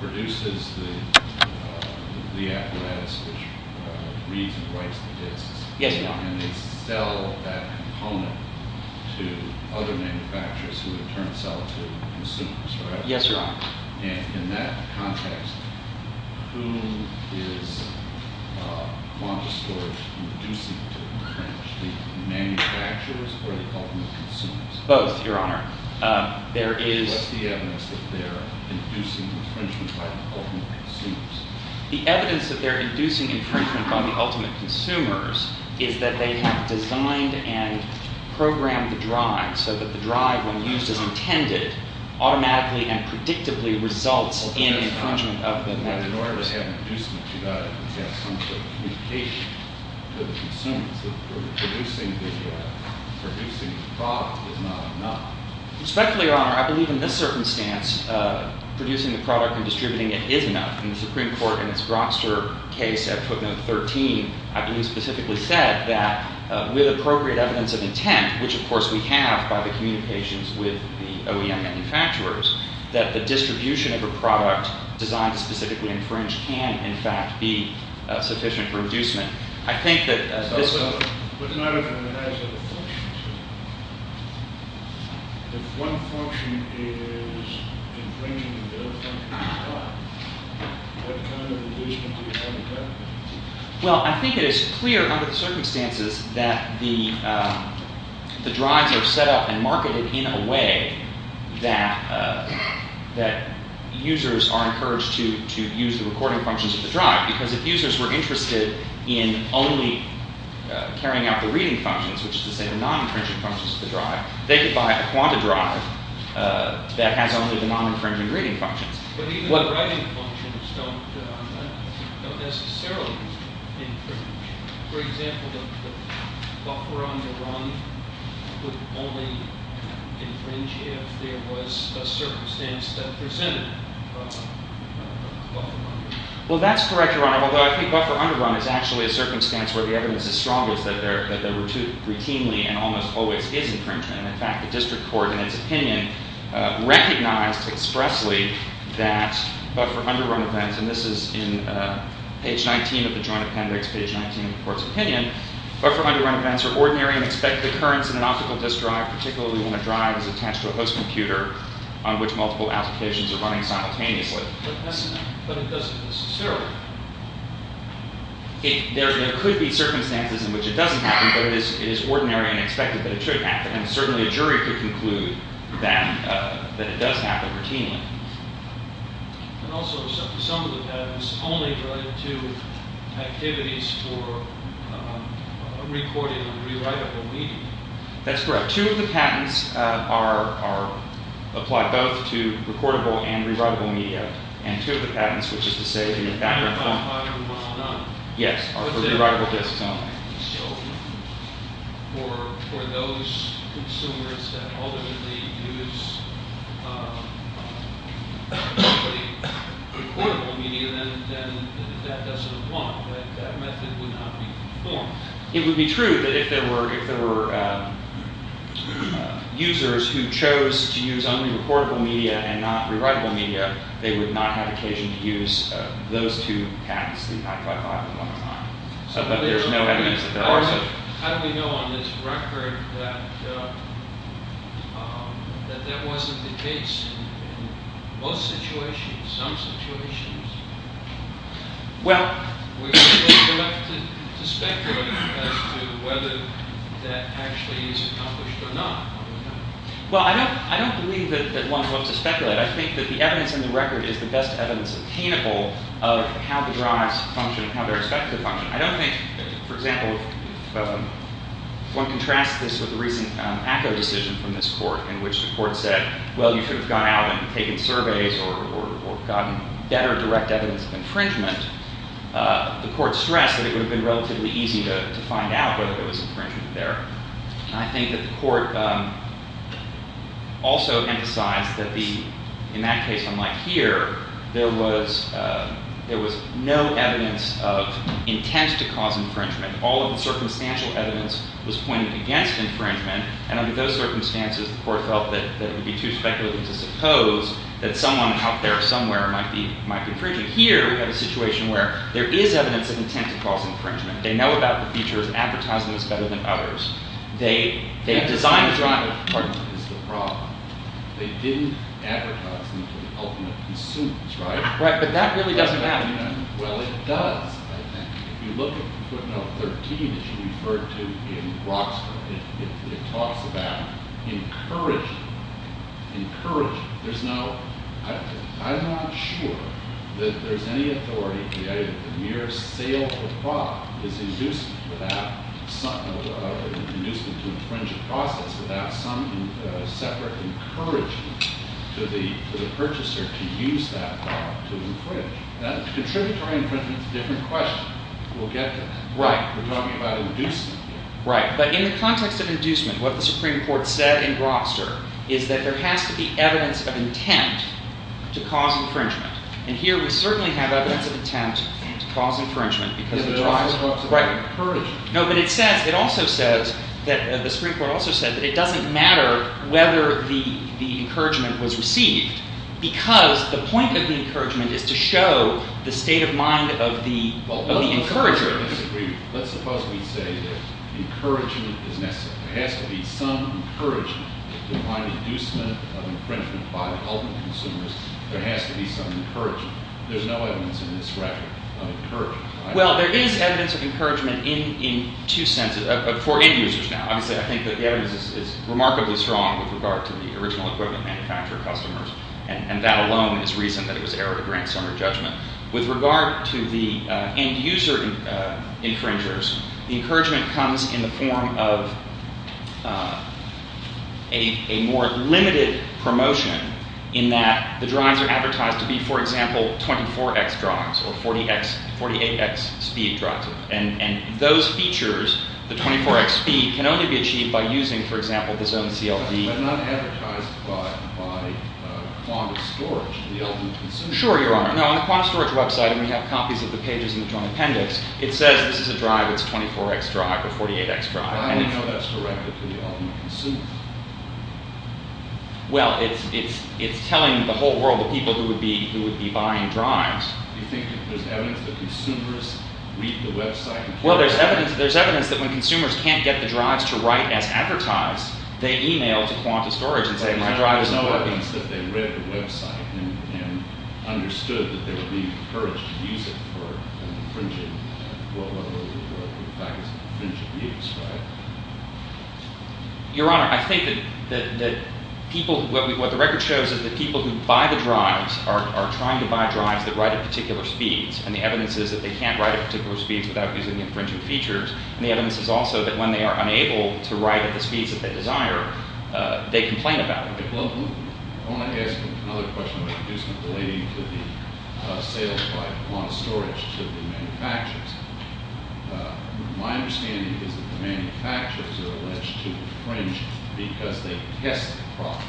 produces the apparatus which reads and writes the disks and they sell that component to other manufacturers who in turn sell it to consumers, right? Yes, Your Honor. And in that context, who is Quanta Storage reducing to the French? The manufacturers or the ultimate consumers? Both, Your Honor. What's the evidence that they're inducing infringement by the ultimate consumers? The evidence that they're inducing infringement by the ultimate consumers is that they have designed and programmed the drive so that the drive, when used as intended, automatically and predictably results in infringement of the manufacturers. But in order to have an inducement to that, you have to have some sort of communication to the consumers that producing the product is not enough. Respectfully, Your Honor, I believe in this circumstance producing the product and distributing it is enough. In the Supreme Court, in its Grokster case at footnote 13, I believe specifically said that with appropriate evidence of intent, which of course we have by the communications with the OEM manufacturers, that the distribution of a product designed to specifically infringe can, in fact, be sufficient for inducement. I think that this... But not if it has other functions. If one function is infringing the other function, what kind of inducement do you have in place? Well, I think it is clear under the circumstances that the drives are set up and marketed in a way that users are encouraged to use the recording functions of the drive because if users were interested in only carrying out the reading functions, which is to say the non-infringing functions of the drive, they could buy a quanta drive that has only the non-infringing reading functions. But even the writing functions don't necessarily infringe. For example, the buffer underrun would only infringe if there was a circumstance that presented a buffer underrun. Well, that's correct, Your Honor, although I think buffer underrun is actually a circumstance where the evidence is strong is that there routinely and almost always is infringement. In fact, the district court, in its opinion, recognized expressly that buffer underrun events, and this is in page 19 of the joint appendix, page 19 of the court's opinion, buffer underrun events are ordinary and expected occurrence in an optical disk drive, particularly when a drive is attached to a host computer on which multiple applications are running simultaneously. But it doesn't necessarily. There could be circumstances in which it doesn't happen, but it is ordinary and expected that it should happen, and certainly a jury could conclude that it does happen routinely. And also some of the patents only relate to activities for recording and rewritable media. That's correct. Two of the patents apply both to recordable and rewritable media, and two of the patents, which is to say in the background… …are for rewritable disks only. So for those consumers that ultimately use only recordable media, then that doesn't apply. That method would not be performed. It would be true that if there were users who chose to use only recordable media and not rewritable media, they would not have occasion to use those two patents, but there's no evidence that there are such… How do we know on this record that that wasn't the case? In most situations, some situations, we're left to speculate as to whether that actually is accomplished or not. Well, I don't believe that one's left to speculate. I think that the evidence in the record is the best evidence attainable of how the drives function and how they're expected to function. I don't think, for example, if one contrasts this with the recent ACCO decision from this court in which the court said, well, you should have gone out and taken surveys or gotten better direct evidence of infringement, the court stressed that it would have been relatively easy to find out whether there was infringement there. I think that the court also emphasized that in that case, unlike here, there was no evidence of intent to cause infringement. All of the circumstantial evidence was pointed against infringement, and under those circumstances, the court felt that it would be too speculative to suppose that someone out there somewhere might be infringing. Here, we have a situation where there is evidence of intent to cause infringement. They know about the features, advertise them as better than others. They design the driver. That is the problem. They didn't advertise them to the ultimate consumers, right? Right, but that really doesn't matter. Well, it does, I think. If you look at footnote 13, as you referred to in Brock's book, it talks about encouraging, encouraging. There's no – I'm not sure that there's any authority. The mere sale of a product is inducing without some – inducing to infringe a process without some separate encouraging to the purchaser to use that product to infringe. Contributory infringement is a different question. We'll get to that. We're talking about inducement here. Right, but in the context of inducement, what the Supreme Court said in Grobster is that there has to be evidence of intent to cause infringement. And here we certainly have evidence of intent to cause infringement because it drives – right. Encouraging. No, but it says – it also says that – the Supreme Court also said that it doesn't matter whether the encouragement was received because the point of the encouragement is to show the state of mind of the encourager. Let's suppose we say that encouragement is necessary. There has to be some encouragement. If you find inducement of infringement by the ultimate consumers, there has to be some encouragement. There's no evidence in this record of encouragement. Well, there is evidence of encouragement in two senses – for end users now. Obviously, I think that the evidence is remarkably strong with regard to the original equipment manufacturer customers, and that alone is reason that it was error to grant summary judgment. With regard to the end user infringers, the encouragement comes in the form of a more limited promotion in that the drives are advertised to be, for example, 24X drives or 48X speed drives. And those features, the 24X speed, can only be achieved by using, for example, the zone CLD. But not advertised by Qantas Storage, the ultimate consumers. Sure, Your Honor. Now, on the Qantas Storage website, and we have copies of the pages in the Joint Appendix, it says this is a drive that's 24X drive or 48X drive. I only know that's directed to the ultimate consumers. Well, it's telling the whole world of people who would be buying drives. Do you think there's evidence that consumers read the website? Well, there's evidence that when consumers can't get the drives to write as advertised, they e-mail to Qantas Storage and say, my drive isn't working. But there's no evidence that they read the website and understood that they would be encouraged to use it for infringing, well, whatever the fact is, infringing use, right? Your Honor, I think that people, what the record shows is that people who buy the drives are trying to buy drives that write at particular speeds. And the evidence is that they can't write at particular speeds without using the infringing features. And the evidence is also that when they are unable to write at the speeds that they desire, they complain about it. Well, I want to ask another question about the use and delay to the sales by Qantas Storage to the manufacturers. My understanding is that the manufacturers are alleged to infringe because they test the product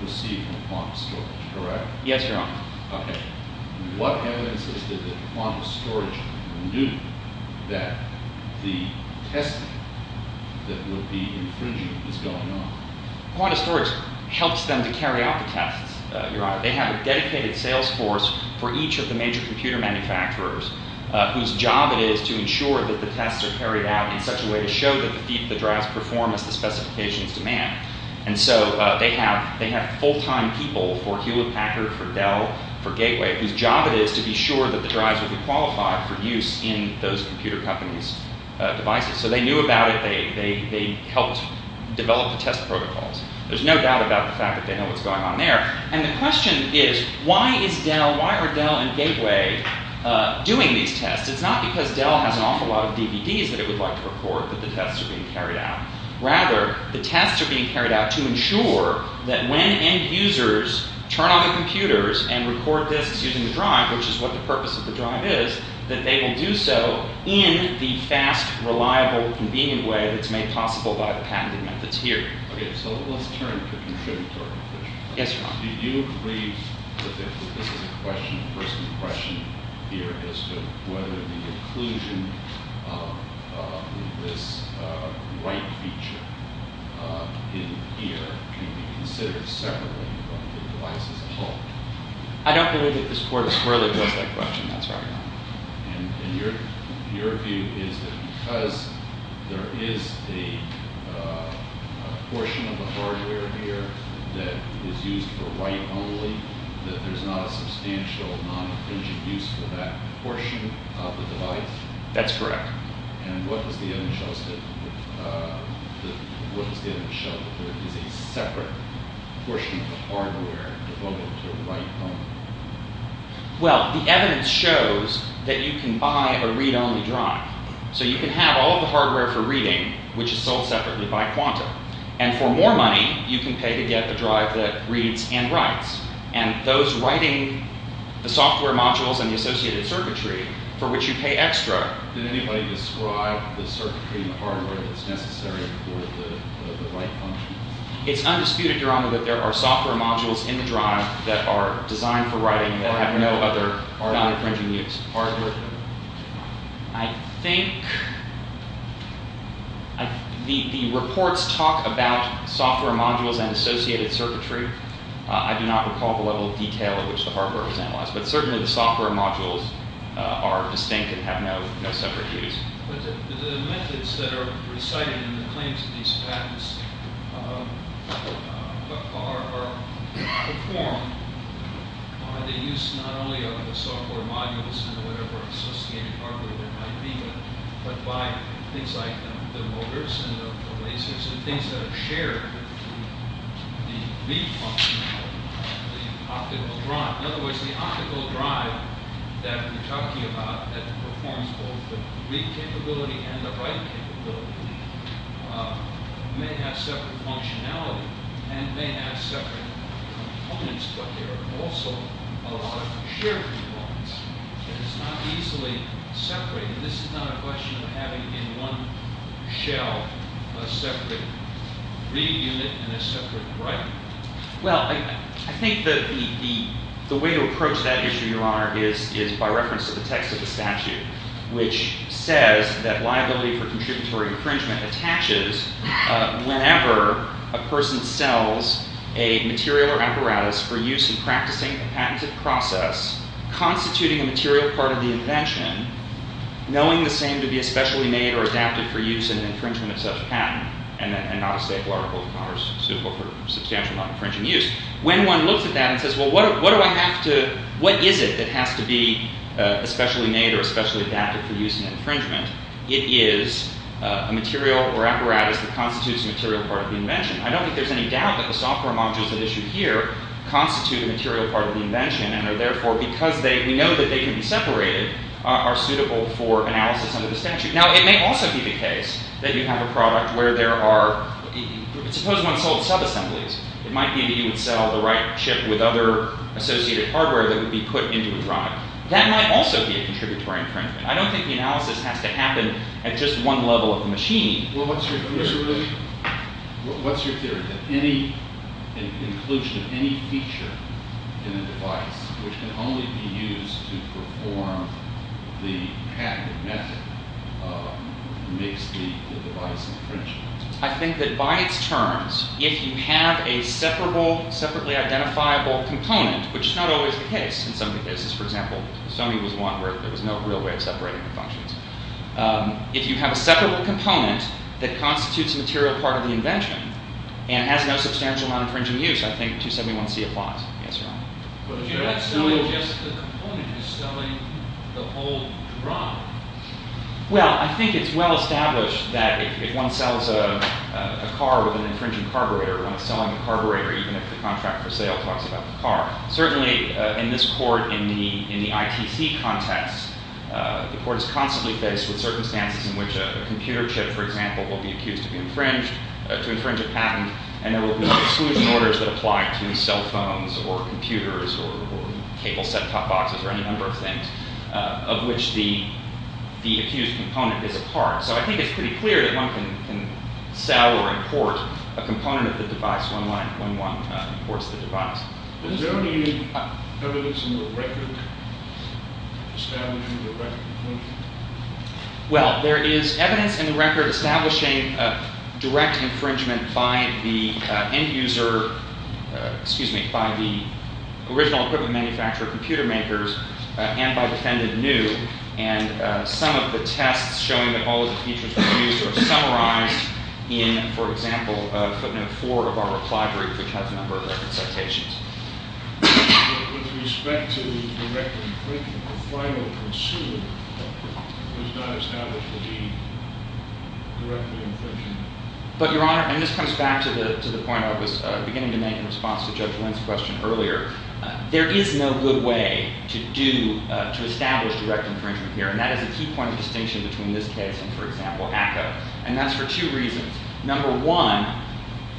to see if it's Qantas Storage, correct? Yes, Your Honor. Okay. What evidence is there that Qantas Storage knew that the testing that would be infringing is going on? Qantas Storage helps them to carry out the tests, Your Honor. They have a dedicated sales force for each of the major computer manufacturers whose job it is to ensure that the tests are carried out in such a way to show that the drives perform as the specifications demand. And so they have full-time people for Hewlett-Packard, for Dell, for Gateway, whose job it is to be sure that the drives would be qualified for use in those computer companies' devices. So they knew about it. They helped develop the test protocols. There's no doubt about the fact that they know what's going on there. And the question is, why is Dell, why are Dell and Gateway doing these tests? It's not because Dell has an awful lot of DVDs that it would like to record that the tests are being carried out. Rather, the tests are being carried out to ensure that when end users turn on the computers and record disks using the drive, which is what the purpose of the drive is, that they will do so in the fast, reliable, convenient way that's made possible by the patented methods here. Okay. So let's turn to the contributor. Yes, Your Honor. Do you agree that this is a question, a personal question here, as to whether the inclusion of this write feature in here can be considered separately from the device as a whole? I don't believe that this Court has further developed that question. That's why I'm asking. And your view is that because there is a portion of the hardware here that is used for write only, that there's not a substantial non-intrinsic use for that portion of the device? That's correct. And what does the evidence show that there is a separate portion of the hardware devoted to write only? Well, the evidence shows that you can buy a read-only drive. So you can have all of the hardware for reading, which is sold separately by Quantum. And for more money, you can pay to get the drive that reads and writes. And those writing the software modules and the associated circuitry for which you pay extra... Did anybody describe the circuitry and the hardware that's necessary for the write function? It's undisputed, Your Honor, that there are software modules in the drive that are designed for writing that have no other non-intrinsic use. Hardware? I think the reports talk about software modules and associated circuitry. I do not recall the level of detail at which the hardware is analyzed. But certainly the software modules are distinct and have no separate use. But the methods that are recited in the claims of these patents are performed by the use not only of the software modules and whatever associated hardware there might be, but by things like the motors and the lasers and things that are shared with the read functionality of the optical drive. In other words, the optical drive that we're talking about that performs both the read capability and the write capability may have separate functionality and may have separate components, but there are also a lot of shared components. And it's not easily separated. This is not a question of having in one shell a separate read unit and a separate write unit. Well, I think the way to approach that issue, Your Honor, is by reference to the text of the statute, which says that liability for contributory infringement attaches whenever a person sells a material or apparatus for use in practicing a patented process, constituting a material part of the invention, knowing the same to be especially made or adapted for use in infringement of such a patent, and not a staple article of Congress suitable for substantial non-infringing use. When one looks at that and says, well, what is it that has to be especially made or especially adapted for use in infringement? It is a material or apparatus that constitutes a material part of the invention. I don't think there's any doubt that the software modules that are issued here constitute a material part of the invention and are therefore, because we know that they can be separated, are suitable for analysis under the statute. Now, it may also be the case that you have a product where there are, suppose one sold subassemblies. It might be that you would sell the right chip with other associated hardware that would be put into the product. That might also be a contributory infringement. I don't think the analysis has to happen at just one level of the machine. Well, what's your theory? What's your theory that any inclusion of any feature in a device, which can only be used to perform the patent method, makes the device infringable? I think that by its terms, if you have a separable, separately identifiable component, which is not always the case in some cases. For example, Sony was one where there was no real way of separating functions. If you have a separable component that constitutes a material part of the invention and has no substantial amount of infringing use, I think 271C applies. Yes, Your Honor. But you're not selling just the component. You're selling the whole product. Well, I think it's well established that if one sells a car with an infringing carburetor, one is selling the carburetor even if the contract for sale talks about the car. Certainly in this court, in the ITC context, the court is constantly faced with circumstances in which a computer chip, for example, will be accused of infringing a patent, and there will be exclusion orders that apply to cell phones or computers or cable set-top boxes or any number of things of which the accused component is a part. So I think it's pretty clear that one can sell or import a component of the device when one imports the device. Is there any evidence in the record establishing direct infringement? Well, there is evidence in the record establishing direct infringement by the end user, excuse me, by the original equipment manufacturer, computer makers, and by defendant new, and some of the tests showing that all of the features were used are summarized in, for example, footnote four of our reply brief, which has a number of reconsultations. With respect to the direct infringement, the final consumer was not established to be directly infringing. But, Your Honor, and this comes back to the point I was beginning to make in response to Judge Lynn's question earlier, there is no good way to establish direct infringement here, and that is a key point of distinction between this case and, for example, ACCA. And that's for two reasons. Number one,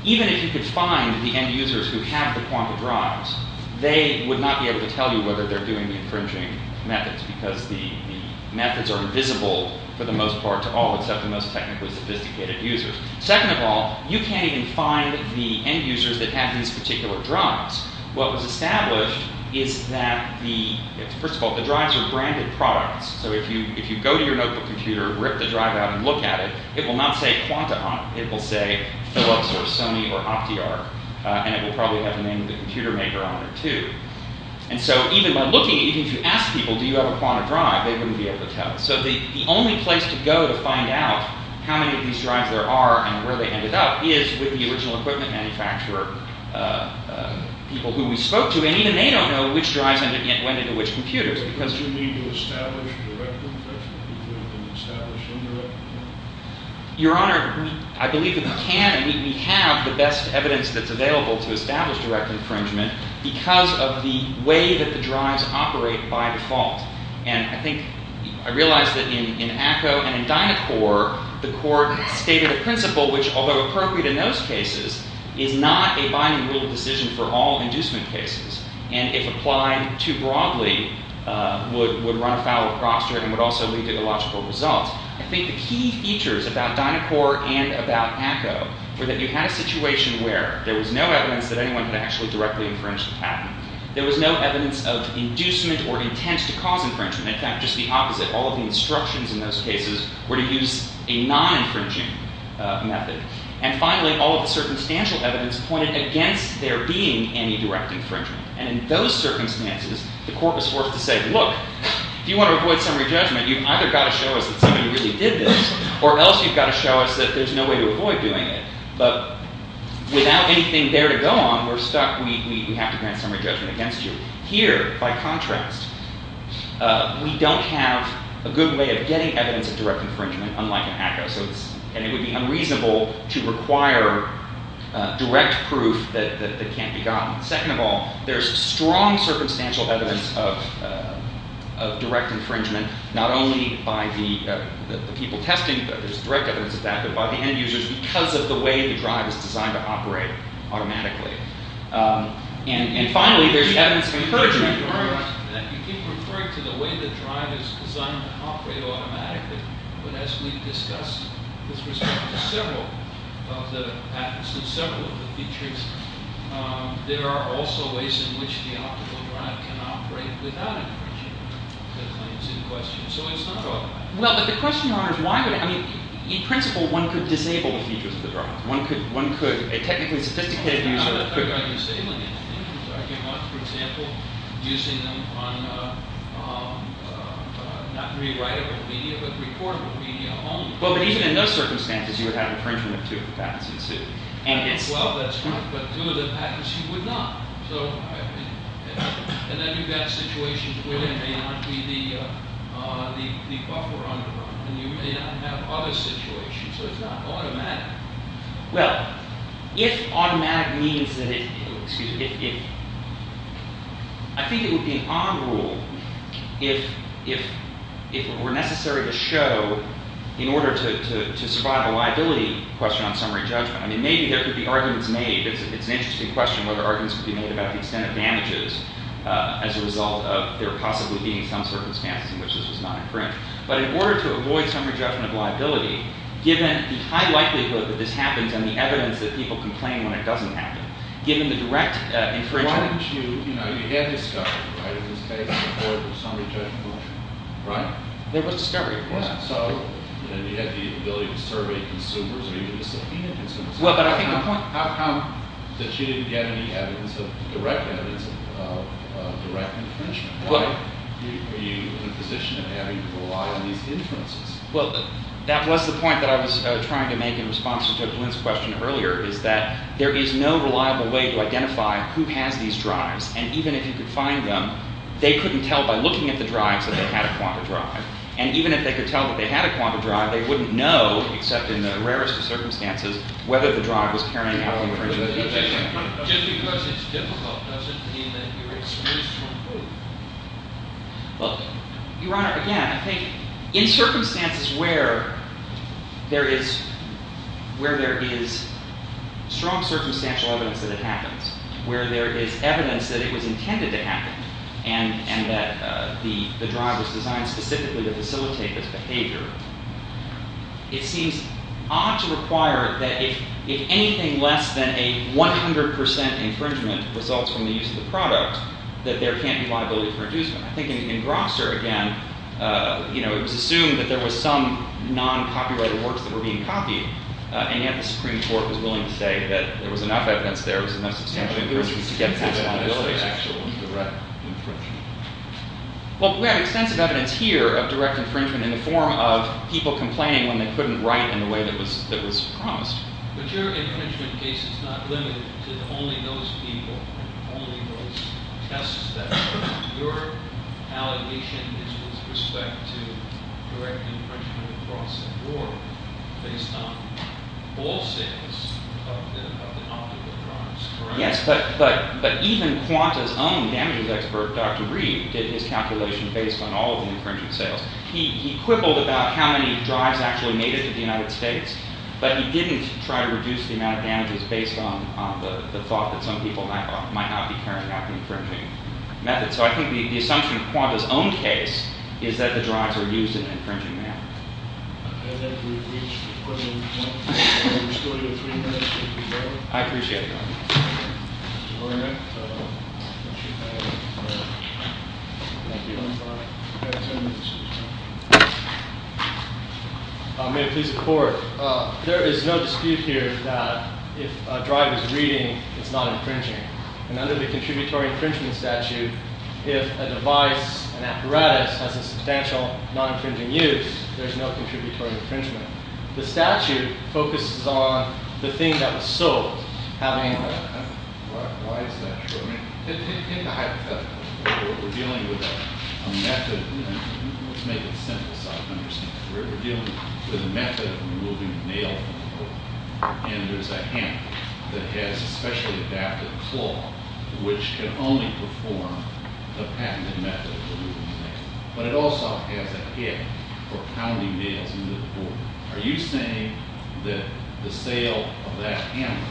even if you could find the end users who have the quantum drives, they would not be able to tell you whether they're doing the infringing methods because the methods are invisible for the most part to all except the most technically sophisticated users. Second of all, you can't even find the end users that have these particular drives. What was established is that the, first of all, the drives are branded products. So if you go to your notebook computer, rip the drive out, and look at it, it will not say quantum, it will say Philips or Sony or Optiar, and it will probably have the name of the computer maker on it too. And so even by looking, even if you ask people, do you have a quantum drive, they wouldn't be able to tell. So the only place to go to find out how many of these drives there are and where they ended up is with the original equipment manufacturer, people who we spoke to, and even they don't know which drives went into which computers because Do you need to establish direct infringement? Do you need to establish indirect infringement? Your Honor, I believe that we can. We have the best evidence that's available to establish direct infringement because of the way that the drives operate by default. And I think, I realize that in ACCO and in Dynacore, the court stated a principle which, although appropriate in those cases, is not a binding rule decision for all inducement cases. And if applied too broadly, would run afoul of prosperity and would also lead to illogical results. I think the key features about Dynacore and about ACCO were that you had a situation where there was no evidence that anyone could actually directly infringe the patent. There was no evidence of inducement or intent to cause infringement. In fact, just the opposite. All of the instructions in those cases were to use a non-infringing method. And finally, all of the circumstantial evidence pointed against there being any direct infringement. And in those circumstances, the court was forced to say, Look, if you want to avoid summary judgment, you've either got to show us that somebody really did this or else you've got to show us that there's no way to avoid doing it. But without anything there to go on, we're stuck. We have to grant summary judgment against you. Here, by contrast, we don't have a good way of getting evidence of direct infringement, unlike in ACCO. And it would be unreasonable to require direct proof that can't be gotten. Second of all, there's strong circumstantial evidence of direct infringement, not only by the people testing, there's direct evidence of that, but by the end users because of the way the drive is designed to operate automatically. And finally, there's evidence of encouragement. You keep referring to the way the drive is designed to operate automatically, but as we've discussed with respect to several of the patents and several of the features, there are also ways in which the optical drive can operate without infringement. So it's not automatic. Well, but the question, Your Honor, is why would it? I mean, in principle, one could disable the features of the drive. One could. A technically sophisticated user could. For example, using them on not rewritable media, but reportable media only. Well, but even in those circumstances, you would have infringement of two of the patents. Well, that's true. But two of the patents you would not. And then you've got situations where there may not be the buffer on the drive. And you may not have other situations. So it's not automatic. Well, if automatic means that it – excuse me – I think it would be an odd rule if it were necessary to show, in order to survive a liability question on summary judgment. I mean, maybe there could be arguments made. It's an interesting question whether arguments could be made about the extent of damages as a result of there possibly being some circumstances in which this was not infringed. But in order to avoid summary judgment of liability, given the high likelihood that this happens and the evidence that people complain when it doesn't happen, given the direct infringement – Why didn't you – you know, you had discovery, right? In this case, in order to avoid summary judgment of liability, right? There was discovery, of course. So you had the ability to survey consumers. Are you going to subpoena consumers? Well, but I think the point – How come that you didn't get any evidence of – direct evidence of direct infringement? Are you in a position of having to rely on these inferences? Well, that was the point that I was trying to make in response to Glyn's question earlier, is that there is no reliable way to identify who has these drives. And even if you could find them, they couldn't tell by looking at the drives that they had a quanta drive. And even if they could tell that they had a quanta drive, they wouldn't know, except in the rarest of circumstances, whether the drive was carrying out an infringement. Just because it's difficult doesn't mean that you're excused from proof. Well, Your Honor, again, I think in circumstances where there is – where there is strong circumstantial evidence that it happens, where there is evidence that it was intended to happen, and that the drive was designed specifically to facilitate this behavior, it seems odd to require that if anything less than a 100 percent infringement results from the use of the product, that there can't be liability for inducement. I think in Grobster, again, you know, it was assumed that there was some non-copyrighted works that were being copied, and yet the Supreme Court was willing to say that there was enough evidence there, there was enough substantial evidence to get this liability. Well, we have extensive evidence here of direct infringement in the form of people complaining when they couldn't write in the way that was promised. But your infringement case is not limited to only those people, only those tests that were – your allegation is with respect to direct infringement across the board based on all sales of the non-copyright drives, correct? Yes, but even Quanta's own damages expert, Dr. Reed, did his calculation based on all of the infringement sales. He quibbled about how many drives actually made it to the United States, but he didn't try to reduce the amount of damages based on the thought that some people might not be carrying out the infringing methods. So I think the assumption in Quanta's own case is that the drives were used in an infringing manner. I'd like to rephrase the question. We still have three minutes. I appreciate it. Good morning. May it please the Court. There is no dispute here that if a drive is reading, it's not infringing. And under the contributory infringement statute, if a device, an apparatus, has a substantial non-infringing use, there's no contributory infringement. The statute focuses on the thing that was sold, having a- Why is that true? In the hypothetical, we're dealing with a method. Let's make it simple so I can understand. We're dealing with a method of removing a nail from a board, and there's a hammer that has a specially adapted claw, which can only perform the patented method of removing a nail. But it also has a head for pounding nails into the board. Are you saying that the sale of that hammer,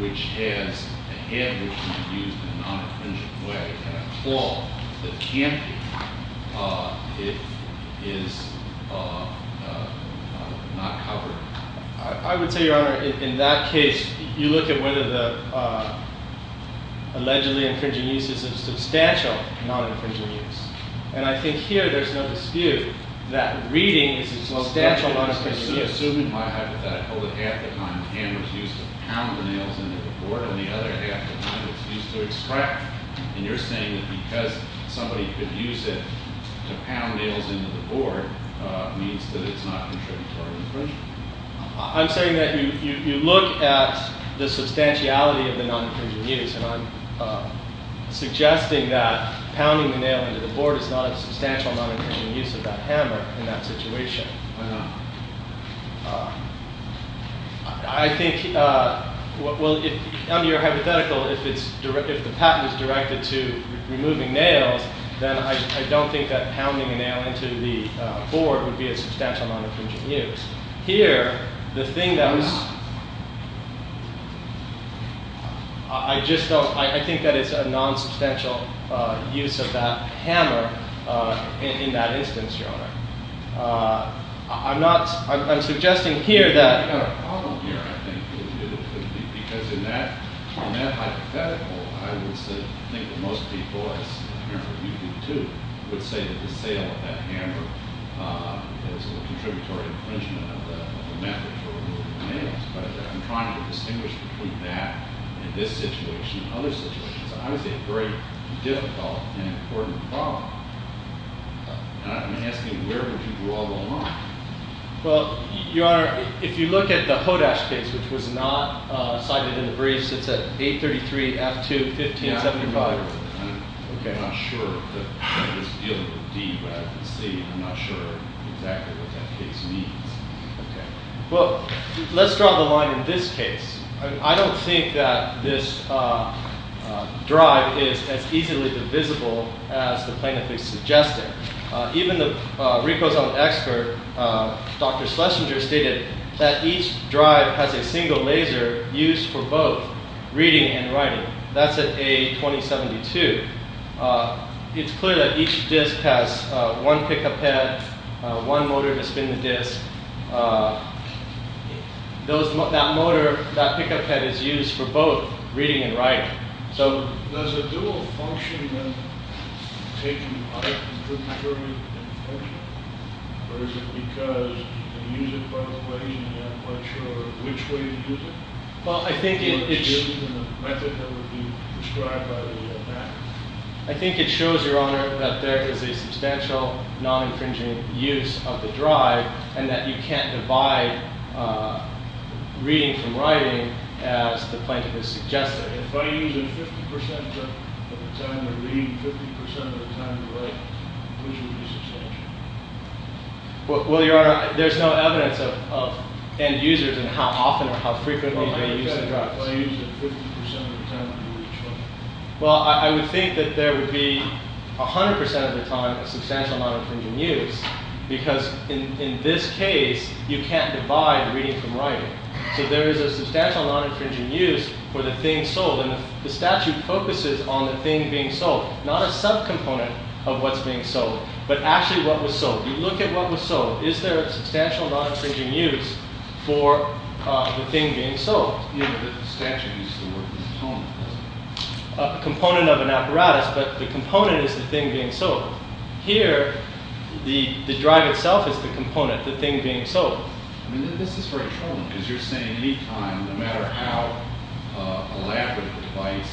which has a head which can be used in a non-infringing way, and a claw that can't be, is not covered? I would say, Your Honor, in that case, you look at whether the allegedly infringing use is a substantial non-infringing use. And I think here there's no dispute that reading is a substantial non-infringing use. Assuming my hypothetical that half the time the hammer is used to pound the nails into the board, and the other half the time it's used to extract, and you're saying that because somebody could use it to pound nails into the board, means that it's not contributory infringement? I'm saying that you look at the substantiality of the non-infringing use, and I'm suggesting that pounding the nail into the board is not a substantial non-infringing use of that hammer in that situation. I think, well, under your hypothetical, if the patent is directed to removing nails, then I don't think that pounding a nail into the board would be a substantial non-infringing use. Here, the thing that was, I just don't, I think that it's a non-substantial use of that hammer in that instance, Your Honor. I'm not, I'm suggesting here that. You've got a problem here, I think, because in that hypothetical, I would say, I think that most people would say that the sale of that hammer is a contributory infringement of the method for removing nails. But I'm trying to distinguish between that and this situation and other situations. I would say a very difficult and important problem. I'm asking, where would you draw the line? Well, Your Honor, if you look at the Hodash case, which was not cited in the briefs, it's at 833-F2-1575. I'm not sure that it was dealing with D rather than C. I'm not sure exactly what that case means. Well, let's draw the line in this case. I don't think that this drive is as easily divisible as the plaintiff is suggesting. Even the recosome expert, Dr. Schlesinger, stated that each drive has a single laser used for both reading and writing. That's at A-2072. It's clear that each disc has one pickup head, one motor to spin the disc. That motor, that pickup head, is used for both reading and writing. Does a dual function then take you out of the contributory infringement? Or is it because you can use it both ways and you're not quite sure which way to use it? Well, I think it shows, Your Honor, that there is a substantial non-infringing use of the drive and that you can't divide reading from writing as the plaintiff is suggesting. If I use it 50% of the time to read, 50% of the time to write, which would be substantial? Well, Your Honor, there's no evidence of end users and how often or how frequently they use the drive. Well, I use it 50% of the time to read. Well, I would think that there would be 100% of the time a substantial non-infringing use because in this case, you can't divide reading from writing. So there is a substantial non-infringing use for the thing sold. And the statute focuses on the thing being sold, not a subcomponent of what's being sold, but actually what was sold. You look at what was sold. Is there a substantial non-infringing use for the thing being sold? Yeah, but the statute used the word component. A component of an apparatus, but the component is the thing being sold. Here, the drive itself is the component, the thing being sold. I mean, this is very troubling because you're saying any time, no matter how elaborate the device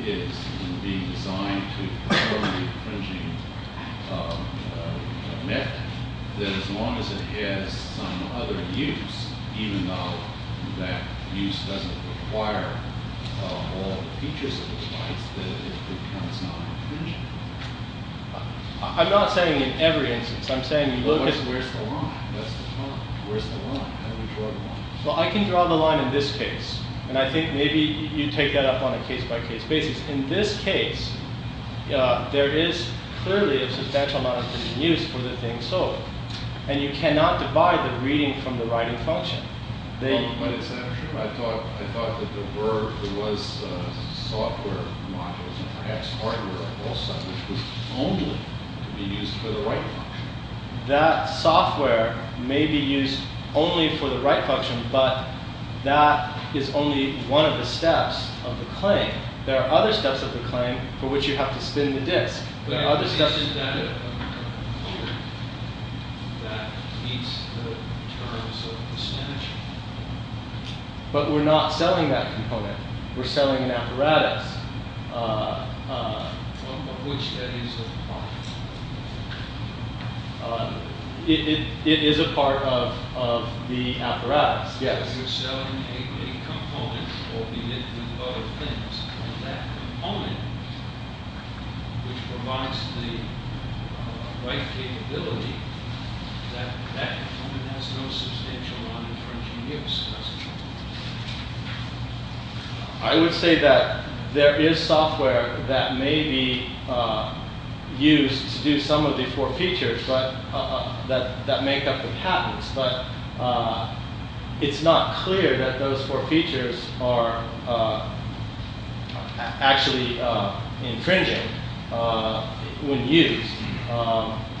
is in being designed to perform the infringing method, that as long as it has some other use, even though that use doesn't require all the features of the device, that it becomes non-infringing. I'm not saying in every instance. I'm saying you look at where's the line. That's the problem. Where's the line? How do we draw the line? Well, I can draw the line in this case. And I think maybe you take that up on a case-by-case basis. In this case, there is clearly a substantial non-infringing use for the thing sold. And you cannot divide the reading from the writing function. But it's not true. I thought that there was software modules and perhaps hardware also, which was only to be used for the writing function. That software may be used only for the writing function, but that is only one of the steps of the claim. There are other steps of the claim for which you have to spin the disk. There are other steps to do it. But isn't that a component that meets the terms of the statute? But we're not selling that component. We're selling an apparatus. Of which that is a part. It is a part of the apparatus. Yes. You're selling a component, albeit with other things. And that component, which provides the right capability, that component has no substantial non-infringing use, does it? I would say that there is software that may be used to do some of the four features that make up the patents. But it's not clear that those four features are actually infringing when used.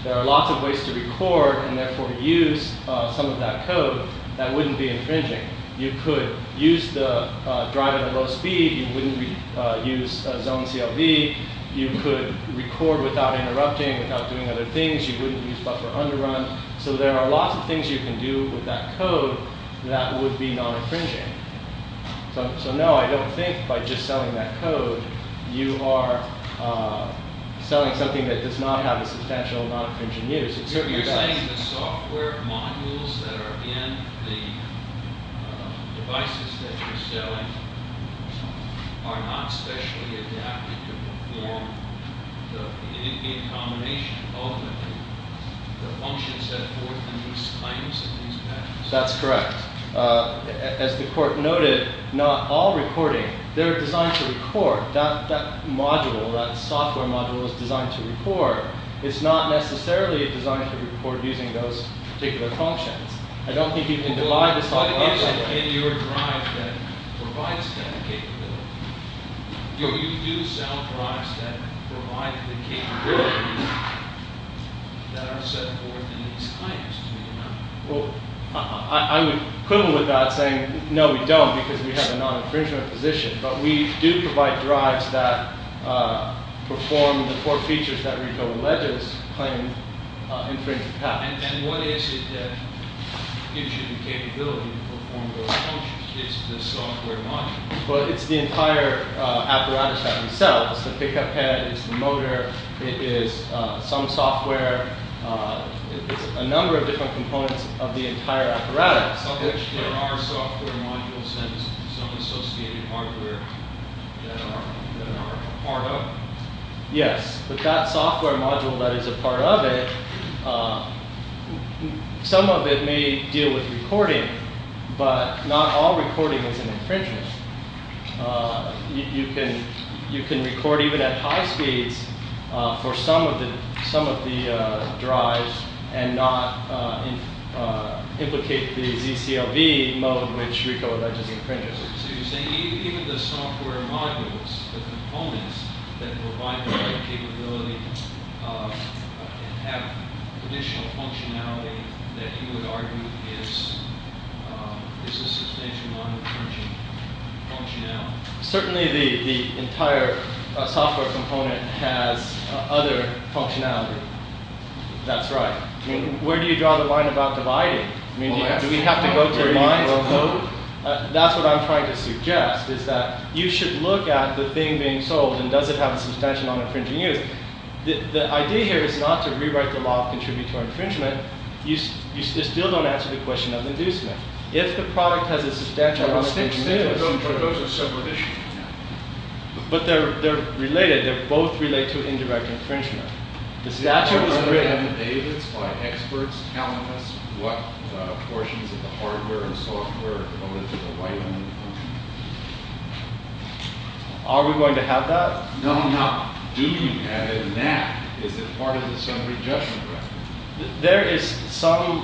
There are lots of ways to record and therefore use some of that code that wouldn't be infringing. You could use the driver at low speed. You wouldn't use zone CLV. You could record without interrupting, without doing other things. You wouldn't use buffer underrun. So there are lots of things you can do with that code that would be non-infringing. So no, I don't think by just selling that code, you are selling something that does not have a substantial non-infringing use. You're saying the software modules that are in the devices that you're selling are not specially adapted to perform the combination of the functions that work in these claims and these patents? That's correct. As the court noted, not all recording, they're designed to record. That module, that software module is designed to record. It's not necessarily designed to record using those particular functions. I don't think you can divide the software module. In your drive that provides that capability, you do sell drives that provide the capability that are set forth in these claims, do you not? I would quibble with that saying no, we don't, because we have a non-infringement position. But we do provide drives that perform the four features that RICO alleges claim infringement patents. And what is it that gives you the capability to perform those functions? It's the software module. Well, it's the entire apparatus that we sell. It's the pickup head, it's the motor, it is some software. It's a number of different components of the entire apparatus. So there are software modules and some associated hardware that are part of it? Yes, but that software module that is a part of it, some of it may deal with recording, but not all recording is an infringement. You can record even at high speeds for some of the drives and not implicate the ZCLV mode which RICO alleges infringement. So you're saying even the software modules, the components that provide the capability have additional functionality that you would argue is a substantial amount of infringing functionality? Certainly the entire software component has other functionality. That's right. Where do you draw the line about dividing? Do we have to go through lines? That's what I'm trying to suggest is that you should look at the thing being sold and does it have a substantial amount of infringing use? The idea here is not to rewrite the law of contributory infringement. You still don't answer the question of inducement. If the product has a substantial amount of infringement use, those are separate issues. But they're related. They both relate to indirect infringement. The statute is written. Do you have the data that's by experts telling us what portions of the hardware and software are related to the right one? Are we going to have that? No, not do you have it in that. Is it part of the summary judgment record? There is some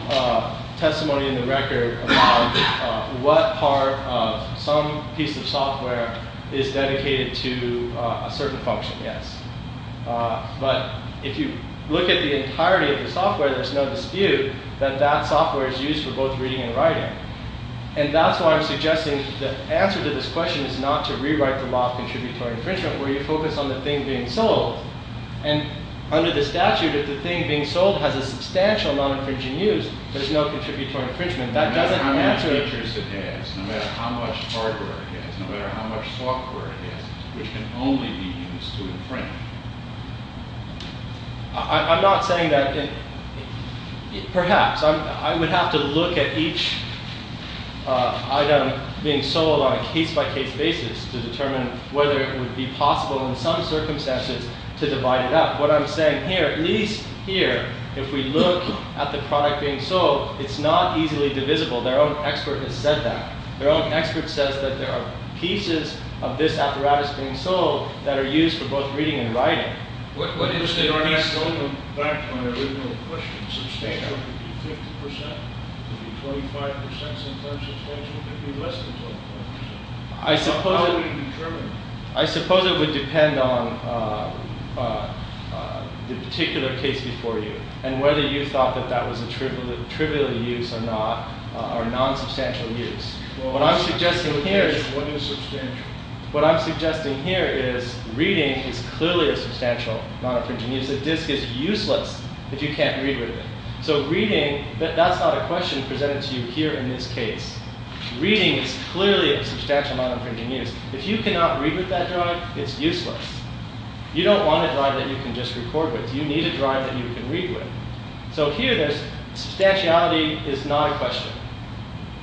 testimony in the record about what part of some piece of software is dedicated to a certain function, yes. But if you look at the entirety of the software, there's no dispute that that software is used for both reading and writing. And that's why I'm suggesting the answer to this question is not to rewrite the law of contributory infringement where you focus on the thing being sold. And under the statute, if the thing being sold has a substantial amount of infringement use, there's no contributory infringement. That doesn't answer it. No matter how many features it has, no matter how much hardware it has, no matter how much software it has, which can only be used to infringe. I'm not saying that. Perhaps. I would have to look at each item being sold on a case-by-case basis to determine whether it would be possible in some circumstances to divide it up. What I'm saying here, at least here, if we look at the product being sold, it's not easily divisible. Their own expert has said that. Their own expert says that there are pieces of this apparatus being sold that are used for both reading and writing. What is the organizational impact on the original question? Would it be 50%? Would it be 25% substantial? Could it be less than 25%? How would you determine that? I suppose it would depend on the particular case before you and whether you thought that that was a trivial use or non-substantial use. What I'm suggesting here is reading is clearly a substantial non-infringing use. A disc is useless if you can't read with it. That's not a question presented to you here in this case. Reading is clearly a substantial non-infringing use. If you cannot read with that drive, it's useless. You don't want a drive that you can just record with. You need a drive that you can read with. Here, substantiality is not a question.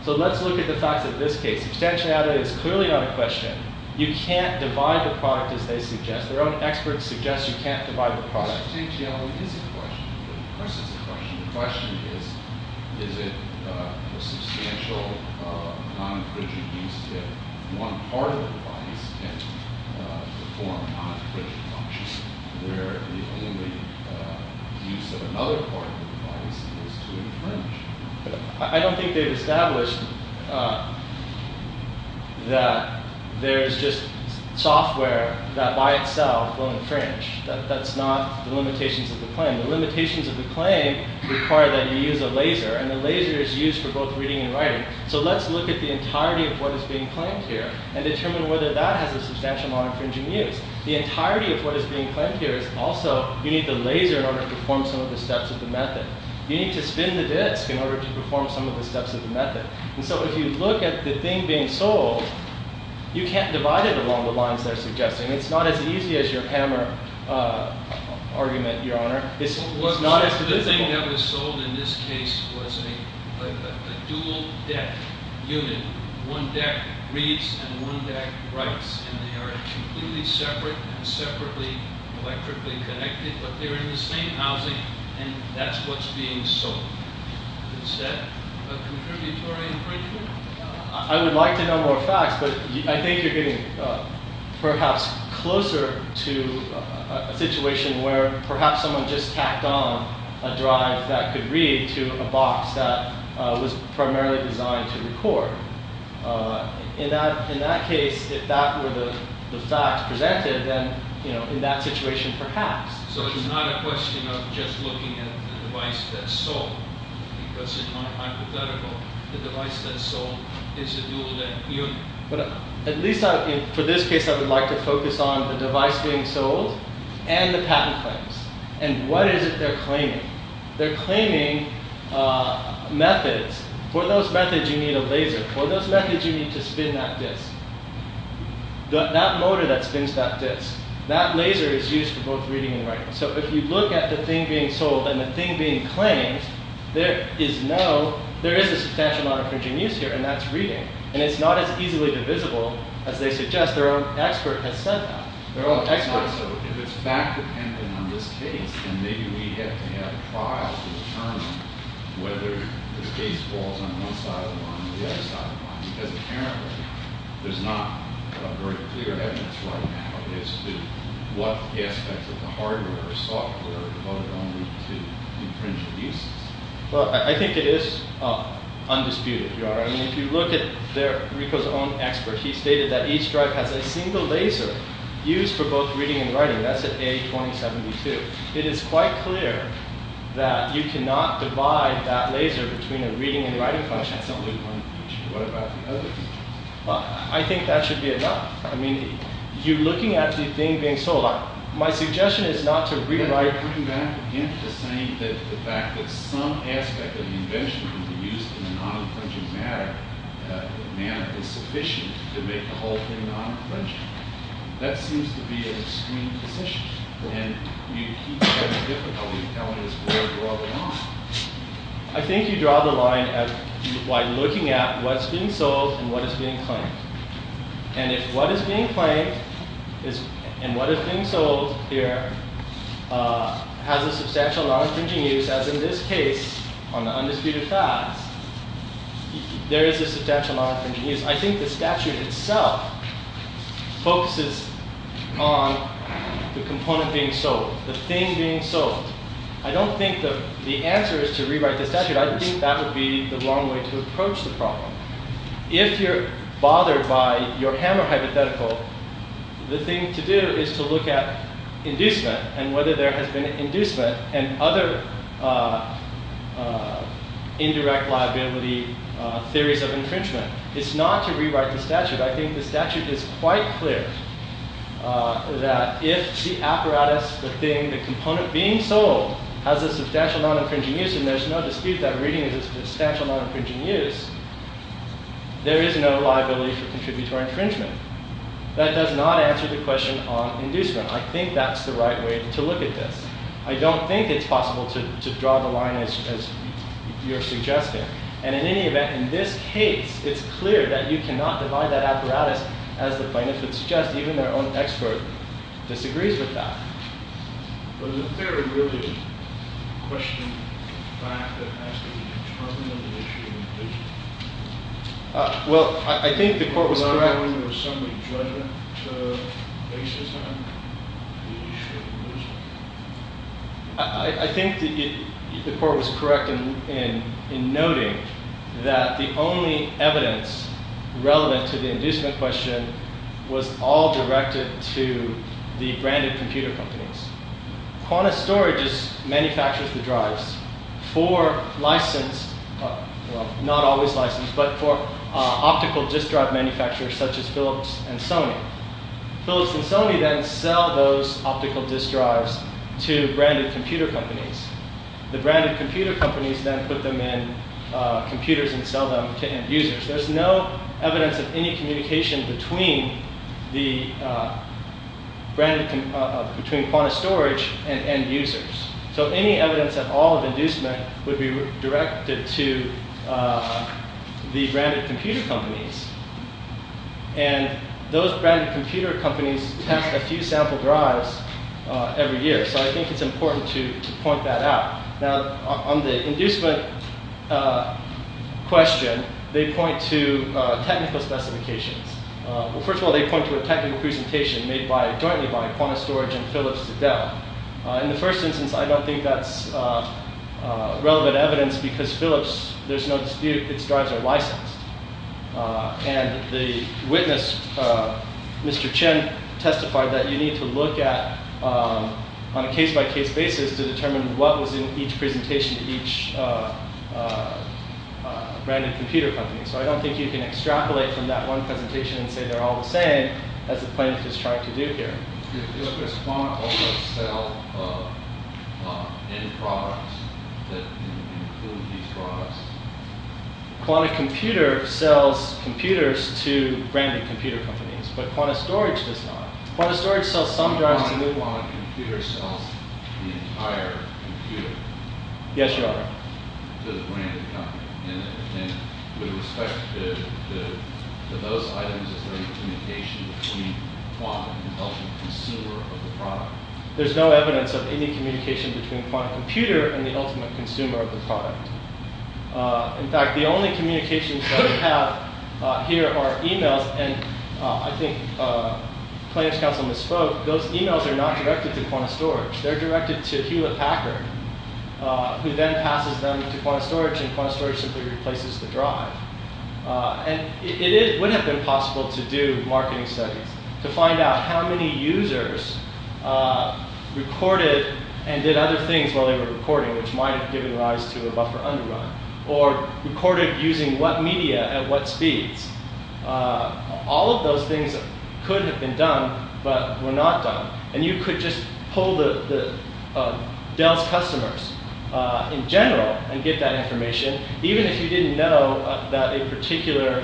Let's look at the facts of this case. Substantiality is clearly not a question. You can't divide the product as they suggest. Their own experts suggest you can't divide the product. Substantiality is a question. Of course it's a question. The question is, is it a substantial non-infringing use if one part of the device can perform non-infringing functions where the only use of another part of the device is to infringe? I don't think they've established that there's just software that by itself will infringe. That's not the limitations of the claim. The limitations of the claim require that you use a laser, and the laser is used for both reading and writing. So let's look at the entirety of what is being claimed here and determine whether that has a substantial non-infringing use. The entirety of what is being claimed here is also, you need the laser in order to perform some of the steps of the method. You need to spin the disk in order to perform some of the steps of the method. And so if you look at the thing being sold, you can't divide it along the lines they're suggesting. It's not as easy as your hammer argument, Your Honor. It's not as divisible. The thing that was sold in this case was a dual deck unit. One deck reads and one deck writes, and they are completely separate and separately electrically connected, but they're in the same housing, and that's what's being sold. Is that a contributory infringement? I would like to know more facts, but I think you're getting perhaps closer to a situation where perhaps someone just tacked on a drive that could read to a box that was primarily designed to record. In that case, if that were the facts presented, then in that situation perhaps. So it's not a question of just looking at the device that's sold, because it's not hypothetical. The device that's sold is a dual deck unit. But at least for this case, I would like to focus on the device being sold and the patent claims. And what is it they're claiming? They're claiming methods. For those methods, you need a laser. For those methods, you need to spin that disk. That motor that spins that disk, that laser is used for both reading and writing. So if you look at the thing being sold and the thing being claimed, there is a substantial amount of infringing use here, and that's reading. And it's not as easily divisible as they suggest. Their own expert has said that. If it's fact dependent on this case, then maybe we have to have a trial to determine whether the case falls on one side or the other side of the line, because apparently there's not very clear evidence right now as to what aspects of the hardware or software are devoted only to infringing uses. Well, I think it is undisputed, Your Honor. I mean, if you look at Rico's own expert, he stated that each drive has a single laser used for both reading and writing. That's at A2072. It is quite clear that you cannot divide that laser between a reading and writing function. That's only one feature. What about the other features? Well, I think that should be enough. I mean, you're looking at the thing being sold. My suggestion is not to rewrite... You're bringing back again to saying that the fact that some aspect of the invention can be used in a non-infringing manner is sufficient to make the whole thing non-infringing. That seems to be an extreme position. And you keep having difficulty telling us where to draw the line. I think you draw the line by looking at what's being sold and what is being claimed. And if what is being claimed and what is being sold here has a substantial non-infringing use, as in this case on the undisputed facts, there is a substantial non-infringing use. I think the statute itself focuses on the component being sold, the thing being sold. I don't think the answer is to rewrite the statute. I think that would be the wrong way to approach the problem. If you're bothered by your hammer hypothetical, the thing to do is to look at inducement and whether there has been an inducement and other indirect liability theories of infringement. It's not to rewrite the statute. I think the statute is quite clear that if the apparatus, the thing, the component being sold, has a substantial non-infringing use and there's no dispute that reading is a substantial non-infringing use, there is no liability for contributory infringement. That does not answer the question on inducement. I think that's the right way to look at this. I don't think it's possible to draw the line as you're suggesting. And in any event, in this case, it's clear that you cannot divide that apparatus as the plaintiff would suggest. Even their own expert disagrees with that. But isn't there a guilty question in fact that has to be determined on the issue of inducement? Well, I think the court was correct. Was there ever some judgment basis on the issue of inducement? I think the court was correct in noting that the only evidence relevant to the inducement question was all directed to the branded computer companies. Qantas Storage manufactures the drives for licensed, well, not always licensed, but for optical disk drive manufacturers such as Philips and Sony. Philips and Sony then sell those optical disk drives to branded computer companies. The branded computer companies then put them in computers and sell them to end-users. There's no evidence of any communication between Qantas Storage and end-users. So any evidence at all of inducement would be directed to the branded computer companies. And those branded computer companies test a few sample drives every year. So I think it's important to point that out. Now, on the inducement question, they point to technical specifications. Well, first of all, they point to a technical presentation made jointly by Qantas Storage and Philips Adele. In the first instance, I don't think that's relevant evidence because Philips, there's no dispute, its drives are licensed. And the witness, Mr. Chen, testified that you need to look at, on a case-by-case basis, to determine what was in each presentation to each branded computer company. So I don't think you can extrapolate from that one presentation and say they're all the same as the plaintiff is trying to do here. Does Qantas also sell any products that include these drives? Qantas Computer sells computers to branded computer companies, but Qantas Storage does not. Qantas Storage sells some drives to new ones. Qantas Computer sells the entire computer to the branded company. And with respect to those items, is there any communication between Qantas and the ultimate consumer of the product? There's no evidence of any communication between Qantas Computer and the ultimate consumer of the product. In fact, the only communications that we have here are emails, and I think plaintiff's counsel misspoke. Those emails are not directed to Qantas Storage. They're directed to Hewlett Packard, who then passes them to Qantas Storage, and Qantas Storage simply replaces the drive. And it would have been possible to do marketing studies to find out how many users recorded and did other things while they were recording, which might have given rise to a buffer underrun, or recorded using what media at what speeds. All of those things could have been done, but were not done. And you could just pull Dell's customers in general and get that information, even if you didn't know that a particular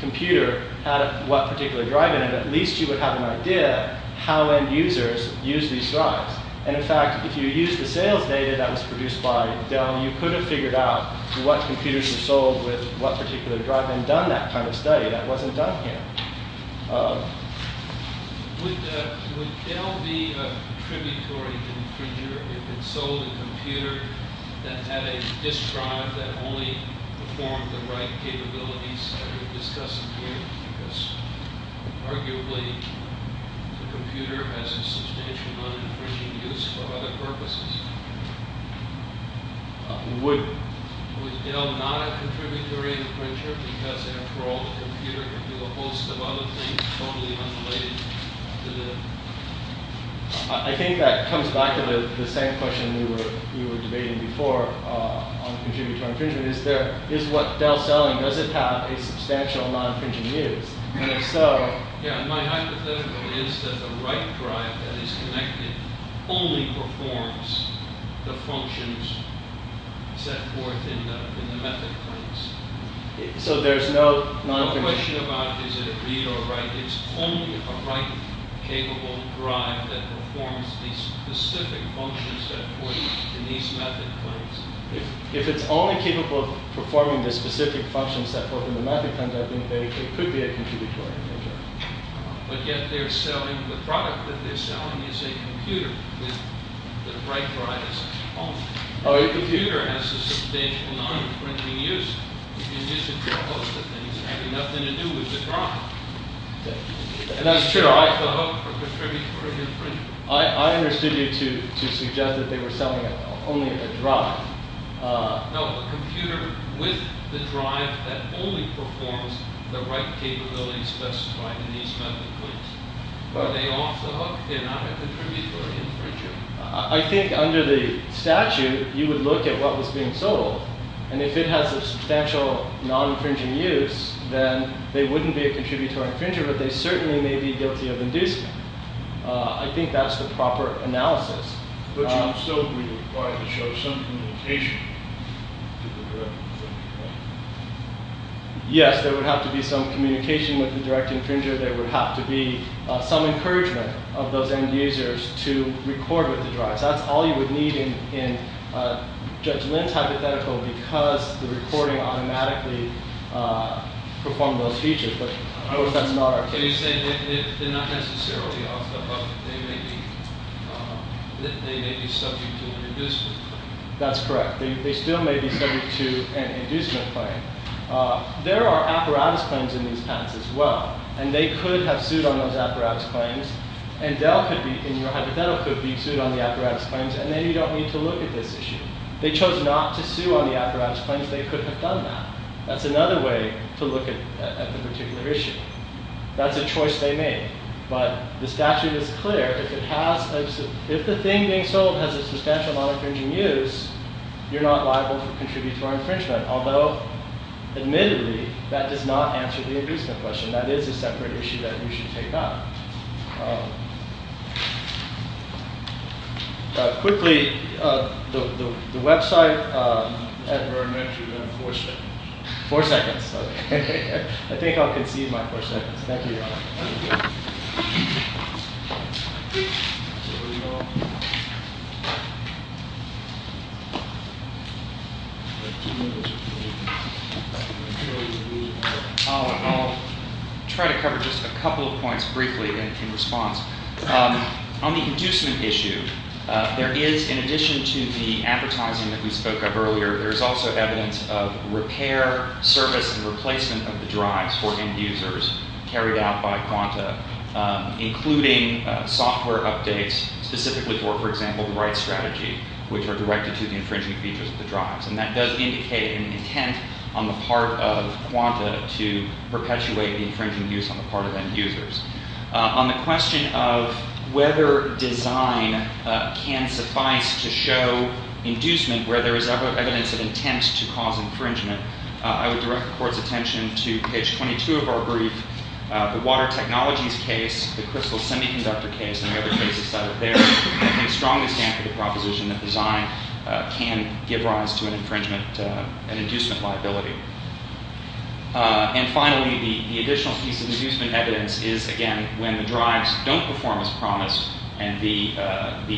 computer had what particular drive in it. At least you would have an idea how end users use these drives. And in fact, if you used the sales data that was produced by Dell, you could have figured out what computers were sold with what particular drive and done that kind of study. That wasn't done here. Would Dell be a contributory infringer if it sold a computer that had a disk drive that only performed the right capabilities that we're discussing here? Because arguably the computer has a substantial non-infringing use for other purposes. Would Dell not a contributory infringer because after all, the computer can do a host of other things totally unrelated to the... I think that comes back to the same question we were debating before on contributory infringement. Is what Dell's selling, does it have a substantial non-infringing use? And if so... My hypothetical is that the right drive that is connected only performs the functions set forth in the method prints. So there's no non-infringing... The question about is it a read or write, it's only a write capable drive that performs the specific functions set forth in these method prints. If it's only capable of performing the specific functions set forth in the method prints, I think it could be a contributory infringer. But yet they're selling the product that they're selling is a computer with the write drive as its own. The computer has a substantial non-infringing use. You can use it for a host of things having nothing to do with the drive. And that's true. It's a drive to hook for a contributory infringer. I understood you to suggest that they were selling only a drive. No, a computer with the drive that only performs the write capability specified in these method prints. Are they off the hook? They're not a contributory infringer. I think under the statute, you would look at what was being sold. And if it has a substantial non-infringing use, then they wouldn't be a contributory infringer, but they certainly may be guilty of inducement. I think that's the proper analysis. But you would still be required to show some communication to the direct infringer, right? Yes, there would have to be some communication with the direct infringer. There would have to be some encouragement of those end users to record with the drive. So that's all you would need in Judge Lin's hypothetical because the recording automatically performed those features. But of course, that's not our case. Can you say they're not necessarily off the hook? They may be subject to an inducement claim. That's correct. They still may be subject to an inducement claim. There are apparatus claims in these patents as well. And they could have sued on those apparatus claims. And Dell could be, in your hypothetical, could be sued on the apparatus claims. And then you don't need to look at this issue. They chose not to sue on the apparatus claims. They could have done that. That's another way to look at the particular issue. That's a choice they made. But the statute is clear. If the thing being sold has a substantial non-infringing use, you're not liable for contributory infringement. Although, admittedly, that does not answer the inducement question. That is a separate issue that we should take up. Quickly, the website. Four seconds. Four seconds. I think I'll concede my four seconds. Thank you, Your Honor. Thank you. I'll try to cover just a couple of points briefly in response. On the inducement issue, there is, in addition to the advertising that we spoke of earlier, there is also evidence of repair, service, and replacement of the drives for end users carried out by Quanta, including software updates specifically for, for example, the right strategy, which are directed to the infringing features of the drives. And that does indicate an intent on the part of Quanta to perpetuate the infringing use on the part of end users. On the question of whether design can suffice to show inducement where there is evidence of intent to cause infringement, I would direct the Court's attention to page 22 of our brief. The water technologies case, the crystal semiconductor case, and the other cases cited there, I think strongly stand for the proposition that design can give rise to an infringement, an inducement liability. And finally, the additional piece of inducement evidence is, again, when the drives don't perform as promised and the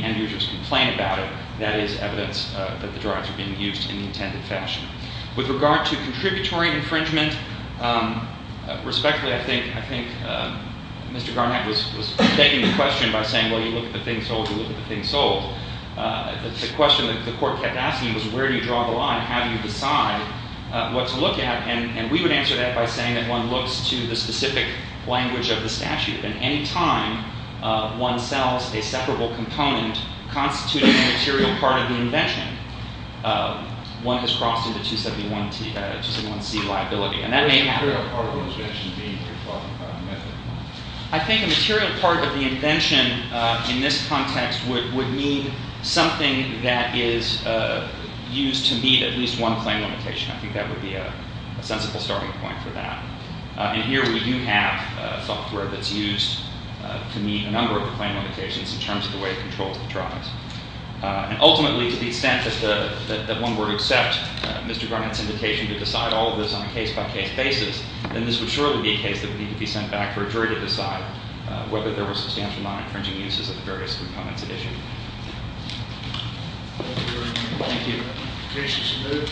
end users complain about it, that is evidence that the drives are being used in the intended fashion. With regard to contributory infringement, respectfully, I think Mr. Garnett was taking the question by saying, well, you look at the thing sold, you look at the thing sold. The question that the Court kept asking was, where do you draw the line? How do you decide what to look at? And we would answer that by saying that one looks to the specific language of the statute. At any time one sells a separable component constituting a material part of the invention, one has crossed into 271C liability. And that may happen. I think a material part of the invention in this context would mean something that is used to meet at least one claim limitation. I think that would be a sensible starting point for that. And here we do have software that's used to meet a number of claim limitations in terms of the way it controls the drives. And ultimately, to the extent that one were to accept Mr. Garnett's invitation to decide all of this on a case-by-case basis, then this would surely be a case that would need to be sent back for a jury to decide whether there were substantial non-infringing uses of the various components at issue. Thank you.